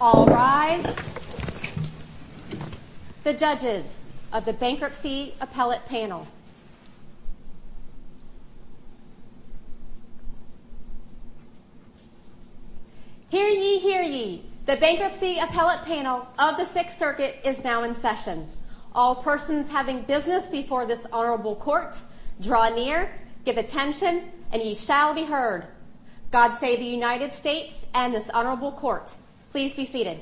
All rise. The judges of the Bankruptcy Appellate Panel. Hear ye, hear ye. The Bankruptcy Appellate Panel of the Sixth Circuit is now in session. All persons having business before this honorable court, draw near, give attention, and ye shall be heard. God save the United States and this honorable court. Please be seated.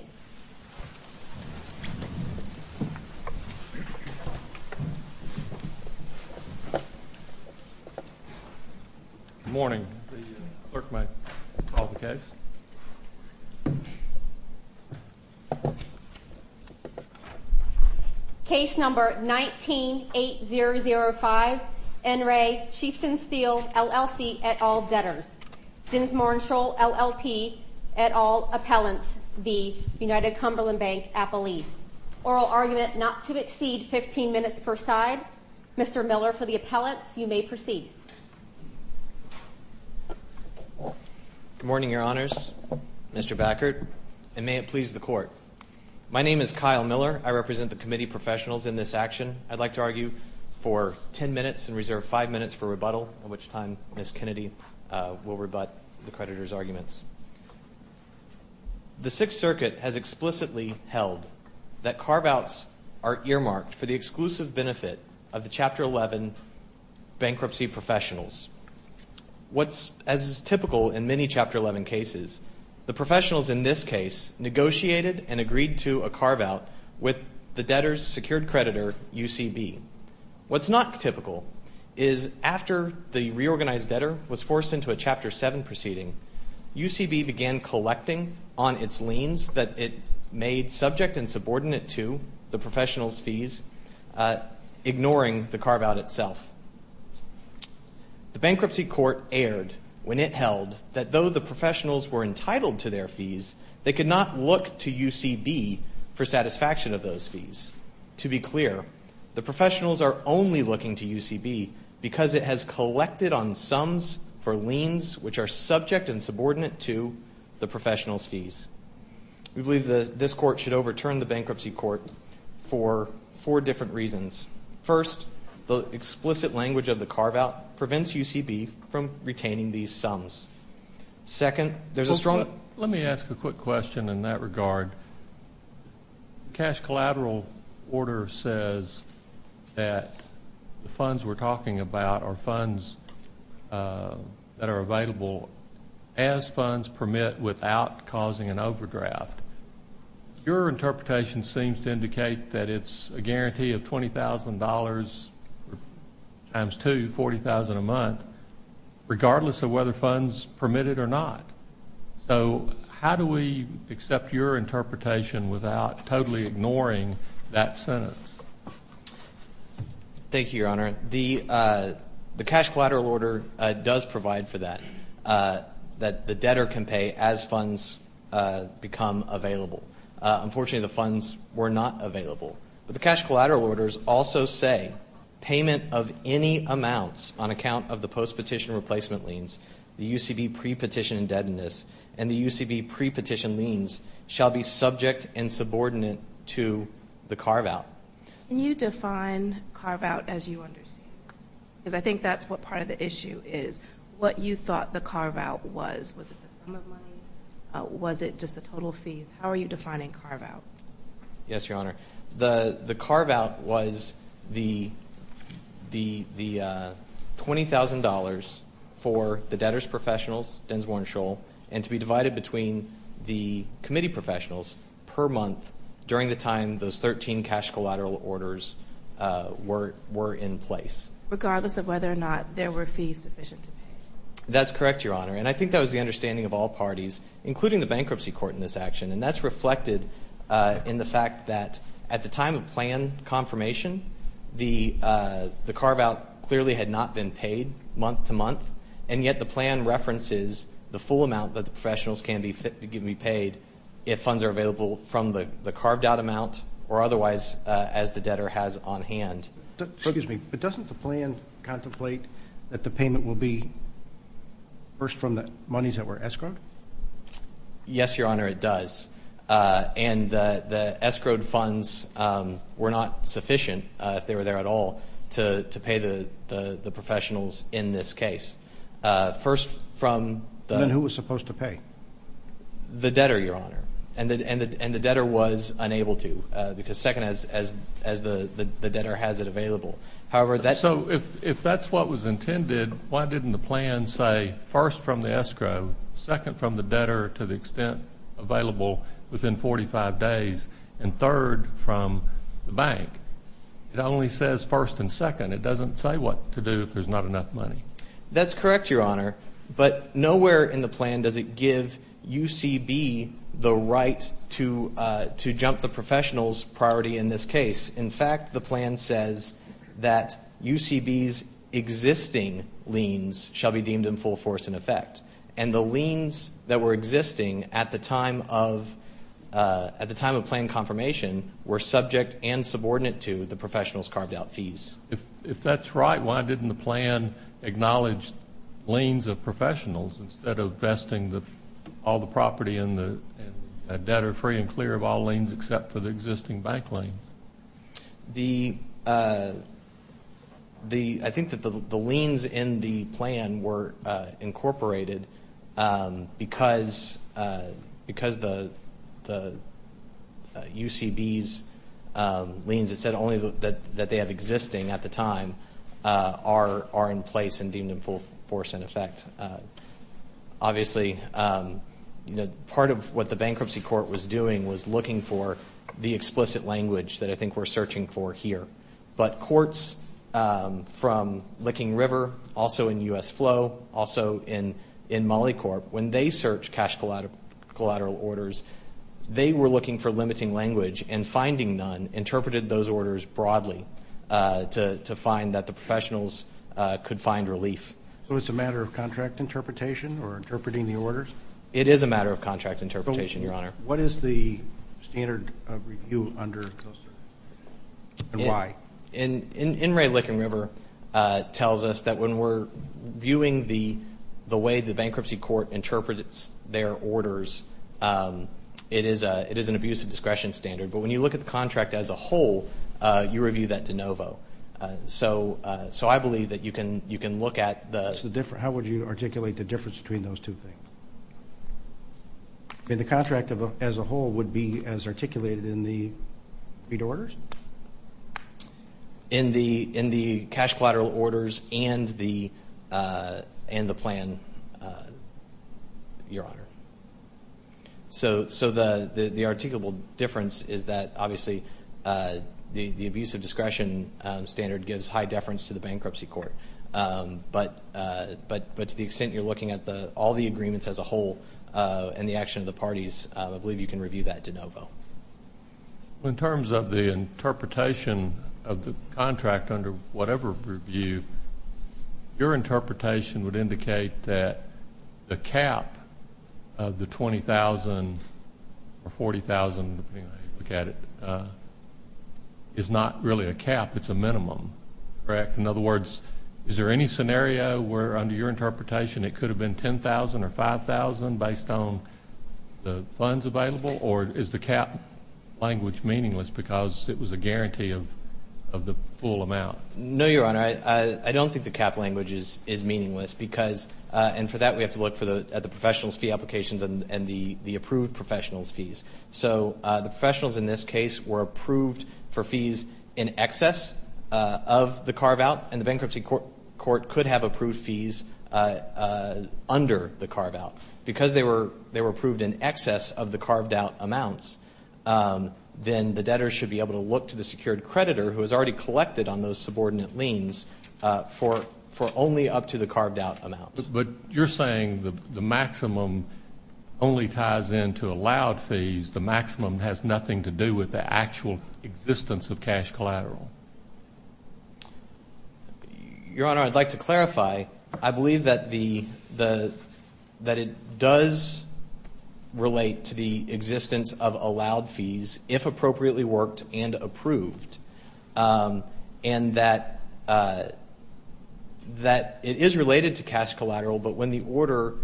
Good morning. The clerk may call the case. Case number 19-8005. N. Ray, Chieftain Steel, LLC, et al. Debtors. Dinsmore & Scholl, LLP, et al. Appellants v. United Cumberland Bank Appellee. Oral argument not to exceed 15 minutes per side. Mr. Miller, for the appellants, you may proceed. Good morning, your honors. Mr. Backert, and may it please the court. My name is Kyle Miller. I represent the committee professionals in this action. I'd like to argue for 10 minutes and reserve 5 minutes for rebuttal, at which time Ms. Kennedy will rebut the creditor's arguments. The Sixth Circuit has explicitly held that carve-outs are earmarked for the exclusive benefit of the Chapter 11 bankruptcy professionals. As is typical in many Chapter 11 cases, the professionals in this case negotiated and agreed to a carve-out with the debtor's secured creditor, UCB. What's not typical is after the reorganized debtor was forced into a Chapter 7 proceeding, UCB began collecting on its liens that it made subject and subordinate to the professionals' fees, ignoring the carve-out itself. The bankruptcy court erred when it held that though the professionals were entitled to their fees, they could not look to UCB for satisfaction of those fees. To be clear, the professionals are only looking to UCB because it has collected on sums for liens which are subject and subordinate to the professionals' fees. We believe this court should overturn the bankruptcy court for four different reasons. First, the explicit language of the carve-out prevents UCB from retaining these sums. Second, there's a strong. Let me ask a quick question in that regard. Cash collateral order says that the funds we're talking about are funds that are available as funds permit without causing an overdraft. Your interpretation seems to indicate that it's a guarantee of $20,000 times two, $40,000 a month, regardless of whether funds permit it or not. So how do we accept your interpretation without totally ignoring that sentence? Thank you, Your Honor. The cash collateral order does provide for that, that the debtor can pay as funds become available. Unfortunately, the funds were not available. But the cash collateral orders also say payment of any amounts on account of the post-petition replacement liens, the UCB pre-petition indebtedness, and the UCB pre-petition liens shall be subject and subordinate to the carve-out. Can you define carve-out as you understand? Because I think that's what part of the issue is, what you thought the carve-out was. Was it the sum of money? Was it just the total fees? How are you defining carve-out? Yes, Your Honor. The carve-out was the $20,000 for the debtors' professionals, Densmore and Scholl, and to be divided between the committee professionals per month during the time those 13 cash collateral orders were in place. Regardless of whether or not there were fees sufficient to pay. That's correct, Your Honor. And I think that was the understanding of all parties, including the bankruptcy court in this action. And that's reflected in the fact that at the time of plan confirmation, the carve-out clearly had not been paid month to month, and yet the plan references the full amount that the professionals can be paid if funds are available from the carved-out amount or otherwise as the debtor has on hand. Excuse me, but doesn't the plan contemplate that the payment will be first from the monies that were escrowed? Yes, Your Honor, it does. And the escrowed funds were not sufficient, if they were there at all, to pay the professionals in this case. First from the — Then who was supposed to pay? The debtor, Your Honor. And the debtor was unable to because second as the debtor has it available. So if that's what was intended, why didn't the plan say first from the escrow, second from the debtor to the extent available within 45 days, and third from the bank? It only says first and second. It doesn't say what to do if there's not enough money. That's correct, Your Honor. But nowhere in the plan does it give UCB the right to jump the professionals' priority in this case. In fact, the plan says that UCB's existing liens shall be deemed in full force in effect. And the liens that were existing at the time of plan confirmation were subject and subordinate to the professionals' carved-out fees. If that's right, why didn't the plan acknowledge liens of professionals instead of vesting all the property in the debtor free and clear of all liens except for the existing bank liens? I think that the liens in the plan were incorporated because the UCB's liens, it said only that they have existing at the time, are in place and deemed in full force in effect. Obviously, part of what the bankruptcy court was doing was looking for the explicit language that I think we're searching for here. But courts from Licking River, also in U.S. Flow, also in MolliCorp, when they searched cash collateral orders, they were looking for limiting language and finding none interpreted those orders broadly to find that the professionals could find relief. So it's a matter of contract interpretation or interpreting the orders? It is a matter of contract interpretation, Your Honor. What is the standard of review under those? And why? In Ray Licking River tells us that when we're viewing the way the bankruptcy court interprets their orders, it is an abuse of discretion standard. But when you look at the contract as a whole, you review that de novo. So I believe that you can look at the different. How would you articulate the difference between those two things? The contract as a whole would be as articulated in the bid orders? In the cash collateral orders and the plan, Your Honor. So the articulable difference is that, obviously, the abuse of discretion standard gives high deference to the bankruptcy court. But to the extent you're looking at all the agreements as a whole and the action of the parties, I believe you can review that de novo. In terms of the interpretation of the contract under whatever review, your interpretation would indicate that the cap of the $20,000 or $40,000, depending on how you look at it, is not really a cap, it's a minimum, correct? In other words, is there any scenario where, under your interpretation, it could have been $10,000 or $5,000 based on the funds available? Or is the cap language meaningless because it was a guarantee of the full amount? No, Your Honor. I don't think the cap language is meaningless because, and for that, we have to look at the professional's fee applications and the approved professional's fees. So the professionals in this case were approved for fees in excess of the carve-out, and the bankruptcy court could have approved fees under the carve-out. Because they were approved in excess of the carved-out amounts, then the debtor should be able to look to the secured creditor, who has already collected on those subordinate liens, for only up to the carved-out amounts. But you're saying the maximum only ties into allowed fees. The maximum has nothing to do with the actual existence of cash collateral. Your Honor, I'd like to clarify. I believe that it does relate to the existence of allowed fees, if appropriately worked and approved, and that it is related to cash collateral, but when the order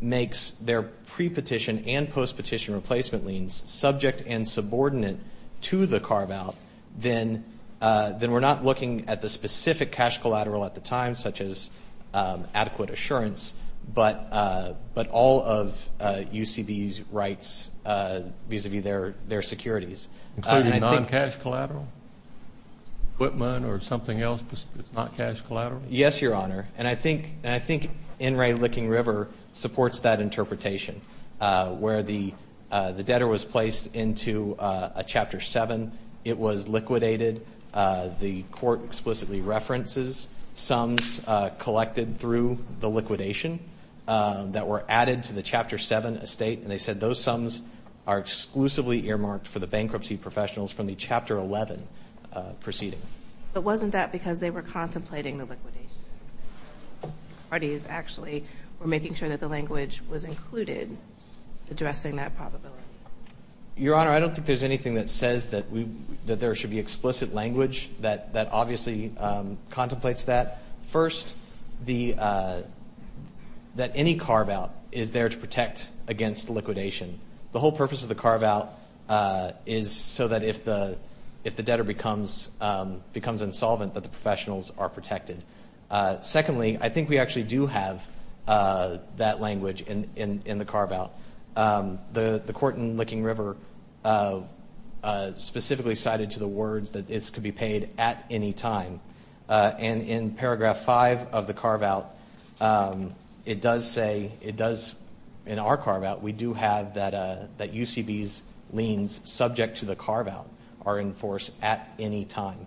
makes their pre-petition and post-petition replacement liens subject and subordinate to the carve-out, then we're not looking at the specific cash collateral at the time, such as adequate assurance, but all of UCB's rights vis-à-vis their securities. Including non-cash collateral? Equipment or something else that's not cash collateral? Yes, Your Honor. And I think In re Licking River supports that interpretation, where the debtor was placed into a Chapter 7. It was liquidated. The Court explicitly references sums collected through the liquidation that were added to the Chapter 7 estate, and they said those sums are exclusively earmarked for the bankruptcy professionals from the Chapter 11 proceeding. But wasn't that because they were contemplating the liquidation? The parties actually were making sure that the language was included addressing that probability. Your Honor, I don't think there's anything that says that there should be explicit language that obviously contemplates that. First, that any carve-out is there to protect against liquidation. The whole purpose of the carve-out is so that if the debtor becomes insolvent, that the professionals are protected. Secondly, I think we actually do have that language in the carve-out. The Court in Licking River specifically cited to the words that it could be paid at any time. And in Paragraph 5 of the carve-out, it does say, it does, in our carve-out, we do have that UCB's liens subject to the carve-out are in force at any time.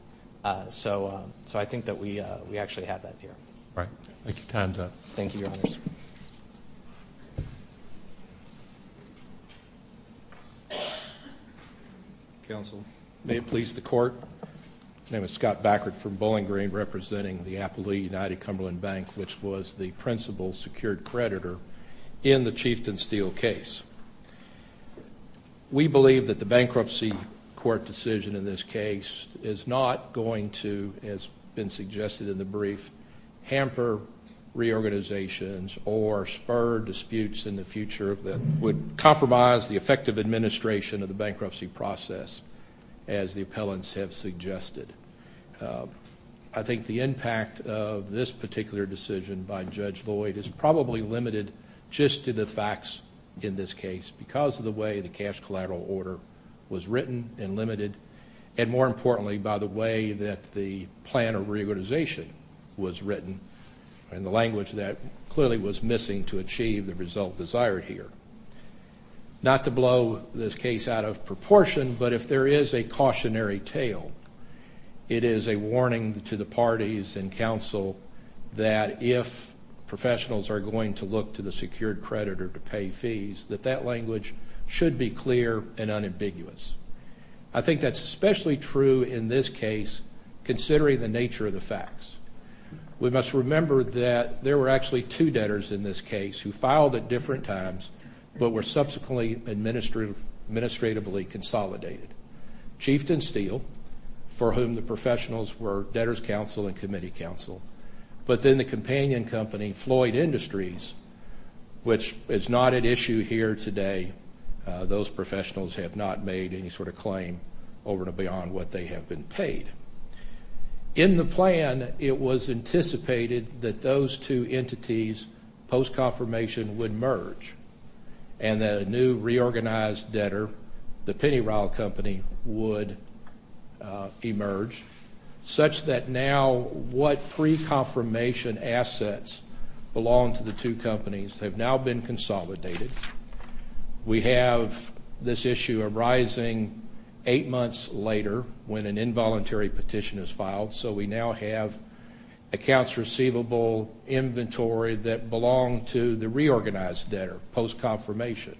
So I think that we actually have that here. All right. Thank you. Time's up. Thank you, Your Honors. Counsel. May it please the Court. My name is Scott Backert from Bowling Green, representing the Appleby United Cumberland Bank, which was the principal secured creditor in the Chieftain Steele case. We believe that the bankruptcy court decision in this case is not going to, as been suggested in the brief, hamper reorganizations or spur disputes in the future that would compromise the effective administration of the bankruptcy process, as the appellants have suggested. I think the impact of this particular decision by Judge Lloyd is probably limited just to the facts in this case because of the way the cash collateral order was written and limited, and more importantly, by the way that the plan of reorganization was written and the language that clearly was missing to achieve the result desired here. Not to blow this case out of proportion, but if there is a cautionary tale, it is a warning to the parties and counsel that if professionals are going to look to the secured creditor to pay fees, that that language should be clear and unambiguous. I think that's especially true in this case, considering the nature of the facts. We must remember that there were actually two debtors in this case who filed at different times but were subsequently administratively consolidated. Chieftain Steele, for whom the professionals were debtors' counsel and committee counsel, but then the companion company, Floyd Industries, which is not at issue here today. Those professionals have not made any sort of claim over and beyond what they have been paid. In the plan, it was anticipated that those two entities post-confirmation would merge and that a new reorganized debtor, the Penny Ryle Company, would emerge, such that now what pre-confirmation assets belong to the two companies have now been consolidated. We have this issue arising eight months later when an involuntary petition is filed, so we now have accounts receivable inventory that belong to the reorganized debtor post-confirmation.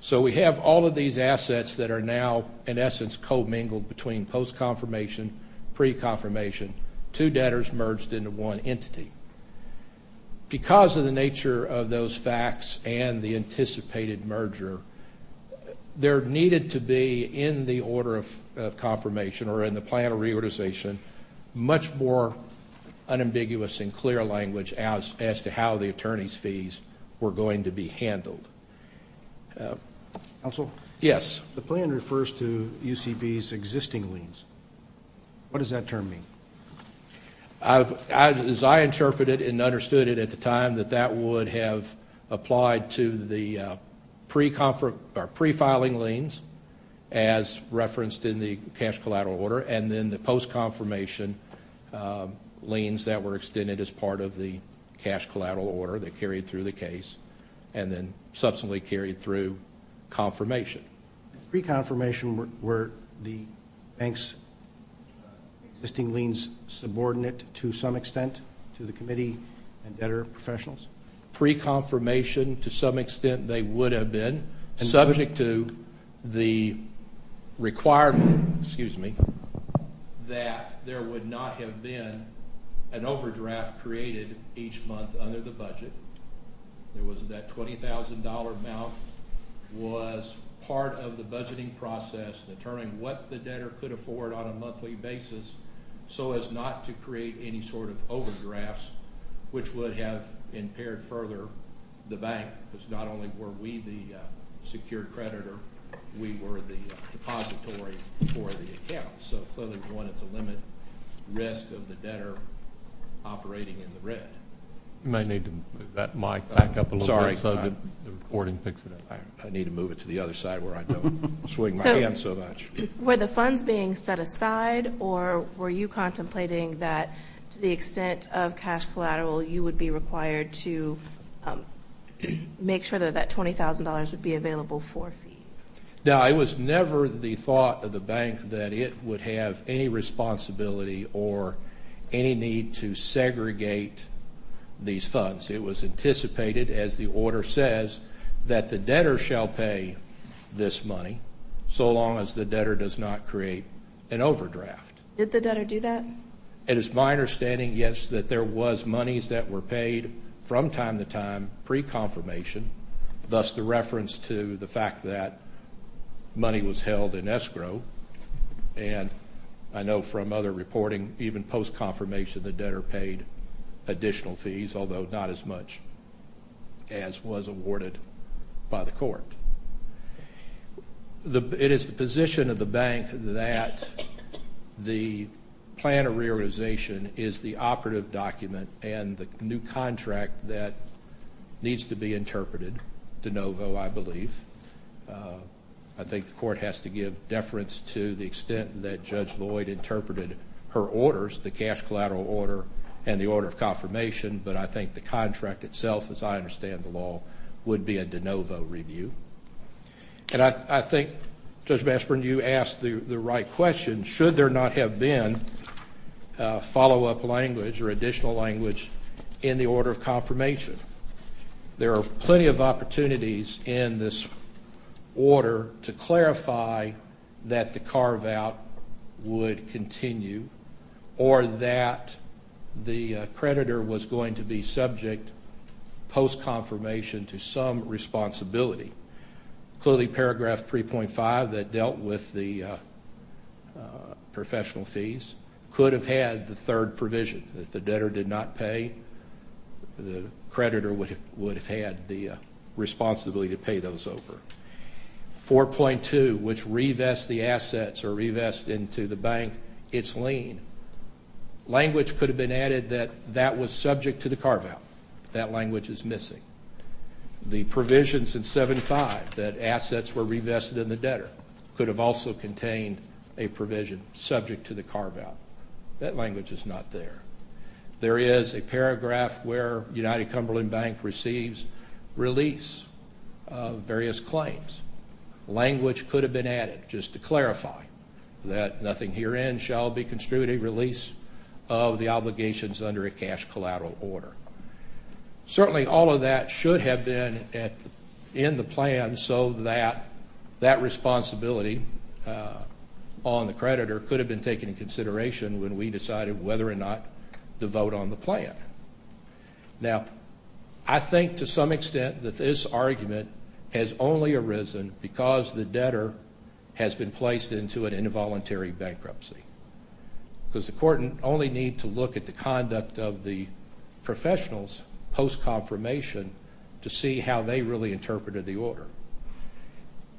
So we have all of these assets that are now, in essence, co-mingled between post-confirmation, pre-confirmation, two debtors merged into one entity. Because of the nature of those facts and the anticipated merger, there needed to be, in the order of confirmation or in the plan of reorganization, much more unambiguous and clear language as to how the attorney's fees were going to be handled. Counsel? Yes. The plan refers to UCB's existing liens. What does that term mean? As I interpreted and understood it at the time, that that would have applied to the pre-filing liens, as referenced in the cash collateral order, and then the post-confirmation liens that were extended as part of the cash collateral order that carried through the case and then subsequently carried through confirmation. Pre-confirmation were the bank's existing liens subordinate to some extent to the committee and debtor professionals? Pre-confirmation, to some extent, they would have been. Subject to the requirement, excuse me, that there would not have been an overdraft created each month under the budget. It was that $20,000 amount was part of the budgeting process, determining what the debtor could afford on a monthly basis so as not to create any sort of overdrafts, which would have impaired further the bank because not only were we the secure creditor, we were the depository for the account. So clearly we wanted to limit risk of the debtor operating in the red. You may need to move that mic back up a little bit so the recording picks it up. I need to move it to the other side where I don't swing my hand so much. Were the funds being set aside or were you contemplating that to the extent of cash collateral, you would be required to make sure that that $20,000 would be available for a fee? No, it was never the thought of the bank that it would have any responsibility or any need to segregate these funds. It was anticipated, as the order says, that the debtor shall pay this money so long as the debtor does not create an overdraft. Did the debtor do that? It is my understanding, yes, that there was monies that were paid from time to time pre-confirmation, thus the reference to the fact that money was held in escrow. And I know from other reporting, even post-confirmation, the debtor paid additional fees, although not as much as was awarded by the court. It is the position of the bank that the plan of realization is the operative document and the new contract that needs to be interpreted de novo, I believe. I think the court has to give deference to the extent that Judge Lloyd interpreted her orders, the cash collateral order and the order of confirmation, but I think the contract itself, as I understand the law, would be a de novo review. And I think, Judge Bashburn, you asked the right question. Should there not have been follow-up language or additional language in the order of confirmation? There are plenty of opportunities in this order to clarify that the carve-out would continue or that the creditor was going to be subject post-confirmation to some responsibility. Clearly, paragraph 3.5 that dealt with the professional fees could have had the third provision. If the debtor did not pay, the creditor would have had the responsibility to pay those over. 4.2, which revests the assets or revests into the bank its lien. Language could have been added that that was subject to the carve-out. That language is missing. The provisions in 75 that assets were revested in the debtor could have also contained a provision subject to the carve-out. That language is not there. There is a paragraph where United Cumberland Bank receives release of various claims. Language could have been added just to clarify that nothing herein shall be construed a release of the obligations under a cash collateral order. Certainly, all of that should have been in the plan so that that responsibility on the creditor could have been taken into consideration when we decided whether or not to vote on the plan. Now, I think to some extent that this argument has only arisen because the debtor has been placed into an involuntary bankruptcy because the court only needs to look at the conduct of the professionals post-confirmation to see how they really interpreted the order.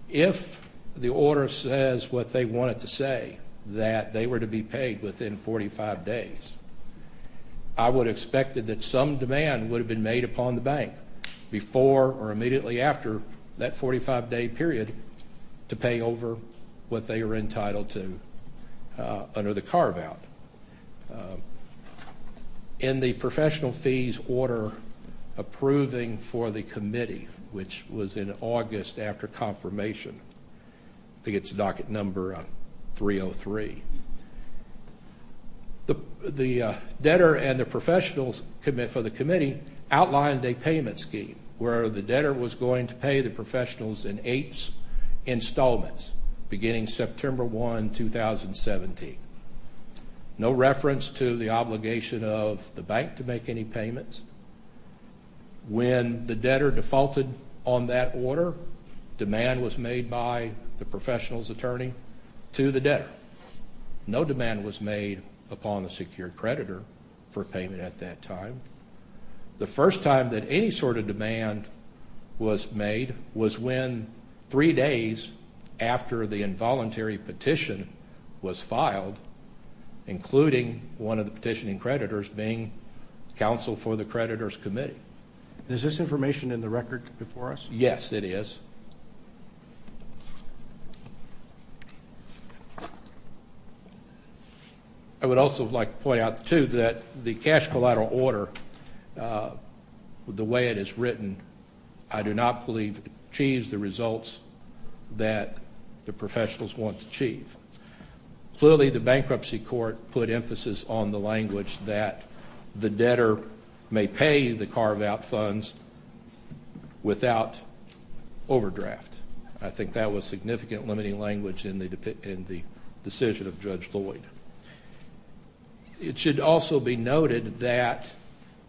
If the order says what they wanted to say, that they were to be paid within 45 days, I would have expected that some demand would have been made upon the bank before or immediately after that 45-day period to pay over what they were entitled to under the carve-out. In the professional fees order approving for the committee, which was in August after confirmation, I think it's docket number 303, the debtor and the professionals for the committee outlined a payment scheme where the debtor was going to pay the professionals in eight installments beginning September 1, 2017. No reference to the obligation of the bank to make any payments. When the debtor defaulted on that order, demand was made by the professional's attorney to the debtor. No demand was made upon the secured creditor for payment at that time. The first time that any sort of demand was made was when three days after the involuntary petition was filed, including one of the petitioning creditors being counsel for the creditor's committee. Is this information in the record before us? Yes, it is. I would also like to point out, too, that the cash collateral order, the way it is written, I do not believe achieves the results that the professionals want to achieve. Clearly, the bankruptcy court put emphasis on the language that the debtor may pay the carve-out funds without overdraft. I think that was significant limiting language in the decision of Judge Lloyd. It should also be noted that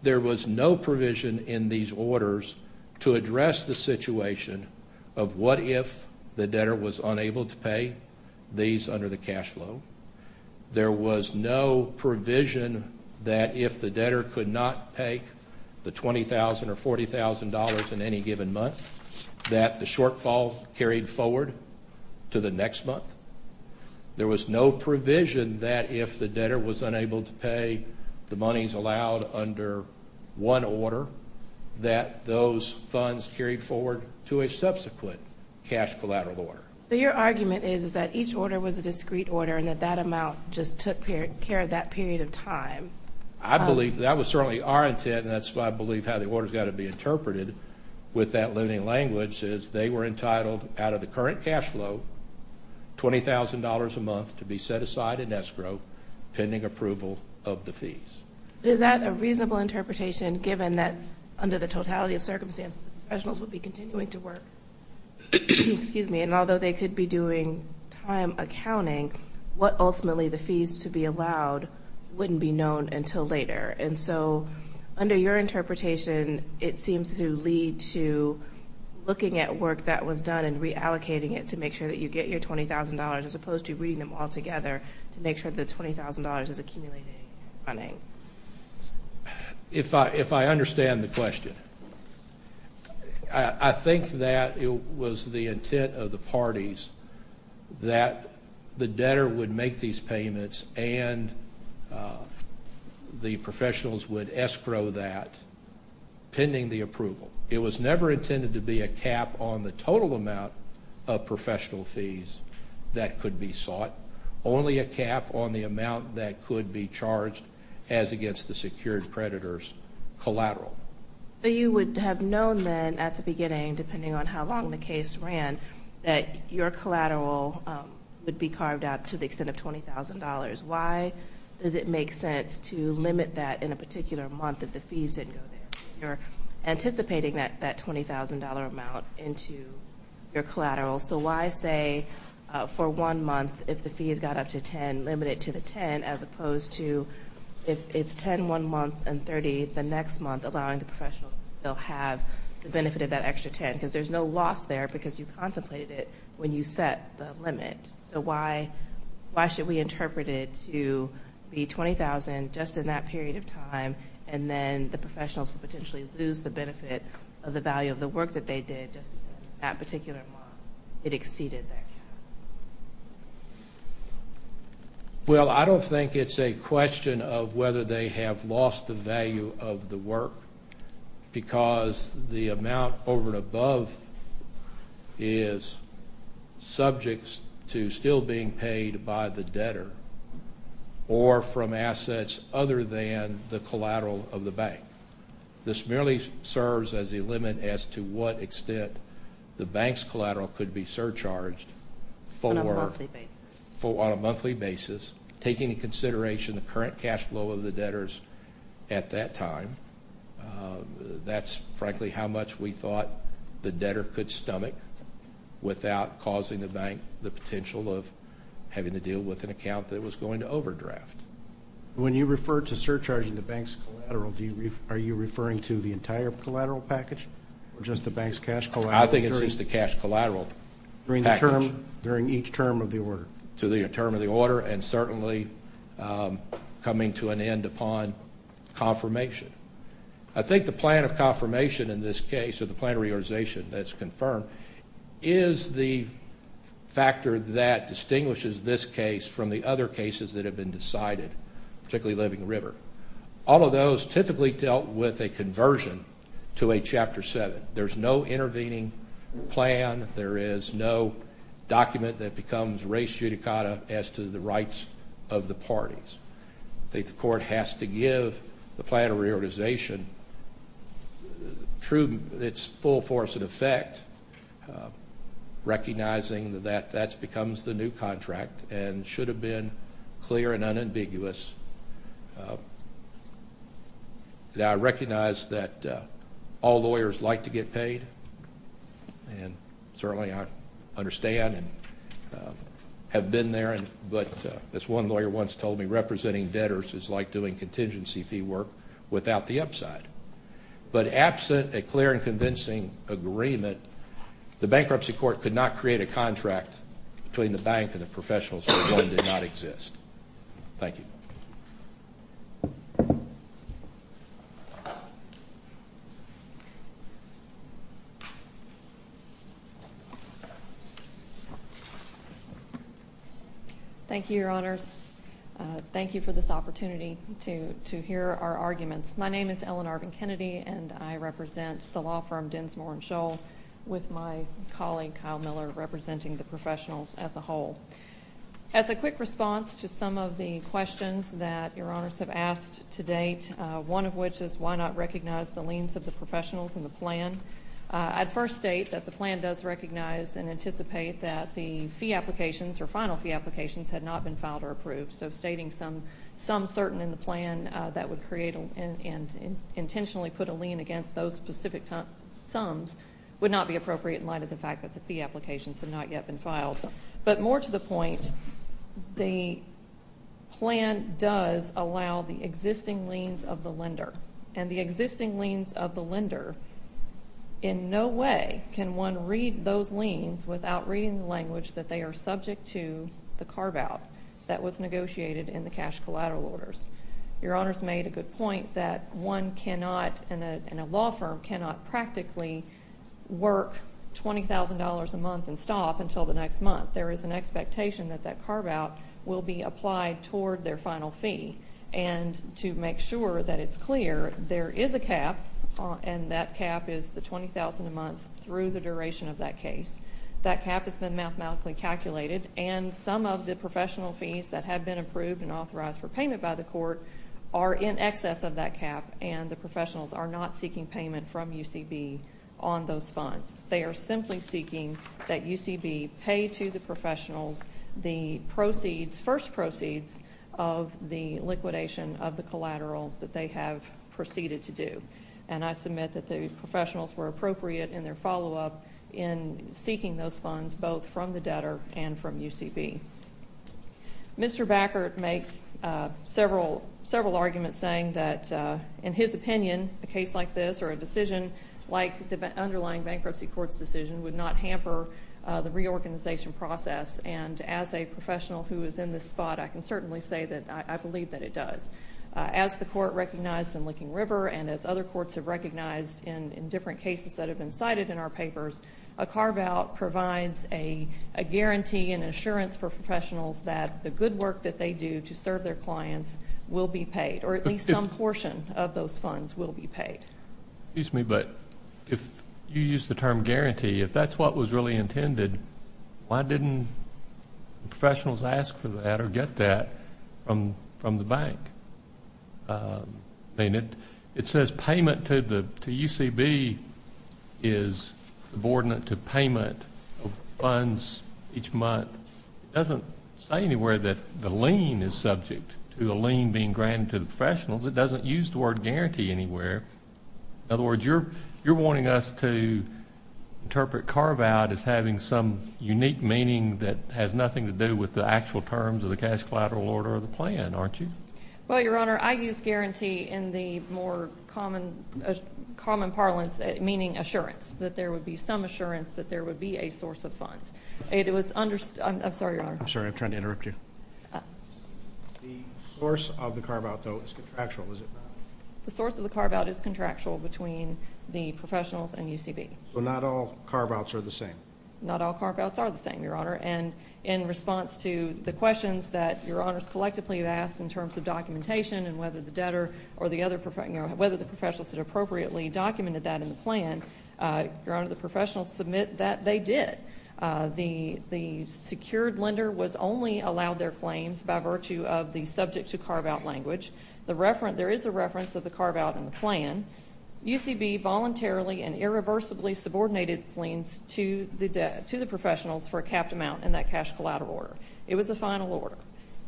there was no provision in these orders to address the situation of what if the debtor was unable to pay these under the cash flow. There was no provision that if the debtor could not pay the $20,000 or $40,000 in any given month, that the shortfall carried forward to the next month. There was no provision that if the debtor was unable to pay the monies allowed under one order, that those funds carried forward to a subsequent cash collateral order. So your argument is that each order was a discrete order and that that amount just took care of that period of time. I believe that was certainly our intent, and that's why I believe how the order has got to be interpreted with that limiting language is they were entitled out of the current cash flow, $20,000 a month to be set aside in escrow pending approval of the fees. Is that a reasonable interpretation given that under the totality of circumstances, the professionals would be continuing to work? Excuse me. And although they could be doing time accounting, what ultimately the fees to be allowed wouldn't be known until later. And so under your interpretation, it seems to lead to looking at work that was done and reallocating it to make sure that you get your $20,000 as opposed to reading them all together to make sure the $20,000 is accumulating and running. If I understand the question. I think that it was the intent of the parties that the debtor would make these payments and the professionals would escrow that pending the approval. It was never intended to be a cap on the total amount of professional fees that could be sought, only a cap on the amount that could be charged as against the secured creditors collateral. So you would have known then at the beginning, depending on how long the case ran, that your collateral would be carved out to the extent of $20,000. Why does it make sense to limit that in a particular month if the fees didn't go there? You're anticipating that $20,000 amount into your collateral. So why say for one month, if the fees got up to $10,000, limit it to the $10,000, as opposed to if it's $10,000 one month and $30,000 the next month, allowing the professionals to still have the benefit of that extra $10,000? Because there's no loss there because you contemplated it when you set the limit. So why should we interpret it to be $20,000 just in that period of time, and then the professionals would potentially lose the benefit of the value of the work that they did just because in that particular month it exceeded their cap? Well, I don't think it's a question of whether they have lost the value of the work, because the amount over and above is subject to still being paid by the debtor or from assets other than the collateral of the bank. This merely serves as a limit as to what extent the bank's collateral could be surcharged for a monthly basis, taking into consideration the current cash flow of the debtors at that time. That's, frankly, how much we thought the debtor could stomach without causing the bank the potential of having to deal with an account that was going to overdraft. When you refer to surcharging the bank's collateral, are you referring to the entire collateral package or just the bank's cash collateral? I think it's just the cash collateral package. During each term of the order? During each term of the order and certainly coming to an end upon confirmation. I think the plan of confirmation in this case or the plan of realization that's confirmed is the factor that has been decided, particularly Living River. All of those typically dealt with a conversion to a Chapter 7. There's no intervening plan. There is no document that becomes res judicata as to the rights of the parties. I think the court has to give the plan of realization its full force in effect, recognizing that that becomes the new contract and should have been clear and unambiguous. I recognize that all lawyers like to get paid and certainly I understand and have been there, but as one lawyer once told me, representing debtors is like doing contingency fee work without the upside. But absent a clear and convincing agreement, the bankruptcy court could not create a contract between the bank and the professionals where the loan did not exist. Thank you. Thank you, Your Honors. Thank you for this opportunity to hear our arguments. My name is Ellen Arvin-Kennedy and I represent the law firm Densmore & Scholl with my colleague Kyle Miller representing the professionals as a whole. As a quick response to some of the questions that Your Honors have asked to date, one of which is why not recognize the liens of the professionals in the plan? I'd first state that the plan does recognize and anticipate that the fee applications or final fee applications had not been filed or approved. So stating some certain in the plan that would create and intentionally put a lien against those specific sums would not be appropriate in light of the fact that the fee applications had not yet been filed. But more to the point, the plan does allow the existing liens of the lender, and the existing liens of the lender in no way can one read those liens without reading the language that they are subject to the carve-out that was negotiated in the cash collateral orders. Your Honors made a good point that one cannot, and a law firm cannot, practically work $20,000 a month and stop until the next month. There is an expectation that that carve-out will be applied toward their final fee. And to make sure that it's clear, there is a cap, and that cap is the $20,000 a month through the duration of that case. That cap has been mathematically calculated, and some of the professional fees that have been approved and authorized for payment by the court are in excess of that cap, and the professionals are not seeking payment from UCB on those funds. They are simply seeking that UCB pay to the professionals the proceeds, first proceeds of the liquidation of the collateral that they have proceeded to do. And I submit that the professionals were appropriate in their follow-up in seeking those funds, both from the debtor and from UCB. Mr. Backert makes several arguments saying that, in his opinion, a case like this or a decision like the underlying bankruptcy court's decision would not hamper the reorganization process. And as a professional who is in this spot, I can certainly say that I believe that it does. As the court recognized in Licking River and as other courts have recognized in different cases that have been cited in our papers, a carve-out provides a guarantee and assurance for professionals that the good work that they do to serve their clients will be paid, or at least some portion of those funds will be paid. Excuse me, but if you use the term guarantee, if that's what was really intended, why didn't the professionals ask for that or get that from the bank? It says payment to UCB is subordinate to payment of funds each month. It doesn't say anywhere that the lien is subject to a lien being granted to the professionals. It doesn't use the word guarantee anywhere. In other words, you're wanting us to interpret carve-out as having some unique meaning that has nothing to do with the actual terms of the cash collateral order of the plan, aren't you? Well, Your Honor, I use guarantee in the more common parlance, meaning assurance, that there would be some assurance that there would be a source of funds. It was understood. I'm sorry, Your Honor. I'm sorry. I'm trying to interrupt you. The source of the carve-out, though, is contractual, is it not? The source of the carve-out is contractual between the professionals and UCB. So not all carve-outs are the same? Not all carve-outs are the same, Your Honor. And in response to the questions that Your Honors collectively have asked in terms of documentation and whether the debtor or the other professionals had appropriately documented that in the plan, Your Honor, the professionals submit that they did. The secured lender was only allowed their claims by virtue of the subject-to-carve-out language. There is a reference of the carve-out in the plan. UCB voluntarily and irreversibly subordinated its liens to the professionals for a capped amount in that cash collateral order. It was a final order.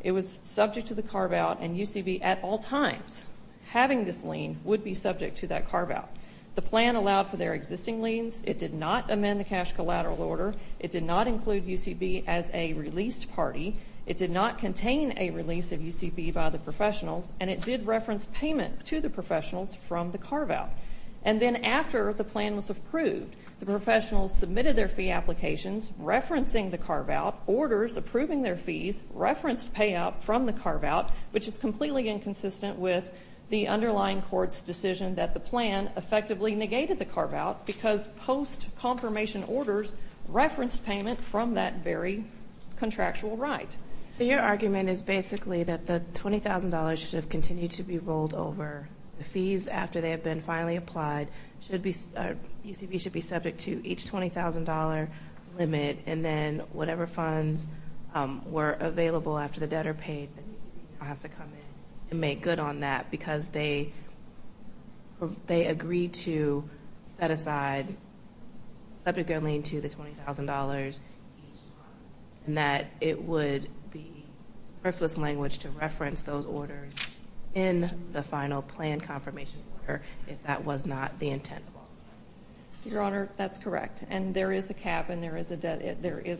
It was subject to the carve-out, and UCB at all times, having this lien, would be subject to that carve-out. The plan allowed for their existing liens. It did not amend the cash collateral order. It did not include UCB as a released party. It did not contain a release of UCB by the professionals, and it did reference payment to the professionals from the carve-out. And then after the plan was approved, the professionals submitted their fee applications, referencing the carve-out, orders approving their fees, referenced payout from the carve-out, which is completely inconsistent with the underlying court's decision that the plan effectively negated the carve-out because post-confirmation orders referenced payment from that very contractual right. So your argument is basically that the $20,000 should have continued to be rolled over. The fees after they have been finally applied, UCB should be subject to each $20,000 limit, and then whatever funds were available after the debtor paid, UCB has to come in and make good on that because they agreed to set aside, subject their lien to the $20,000, and that it would be worthless language to reference those orders in the final plan confirmation order if that was not the intent of all the plans. Your Honor, that's correct. And there is a cap, and there is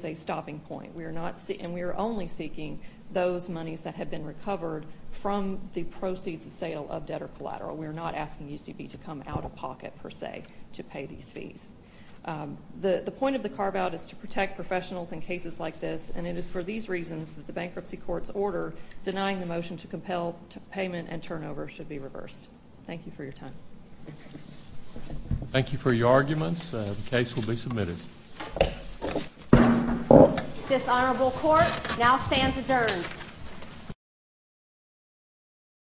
a stopping point. And we are only seeking those monies that have been recovered from the proceeds of sale of debtor collateral. We are not asking UCB to come out of pocket, per se, to pay these fees. The point of the carve-out is to protect professionals in cases like this, and it is for these reasons that the bankruptcy court's order denying the motion to compel payment and turnover should be reversed. Thank you for your time. Thank you for your arguments. The case will be submitted. This honorable court now stands adjourned.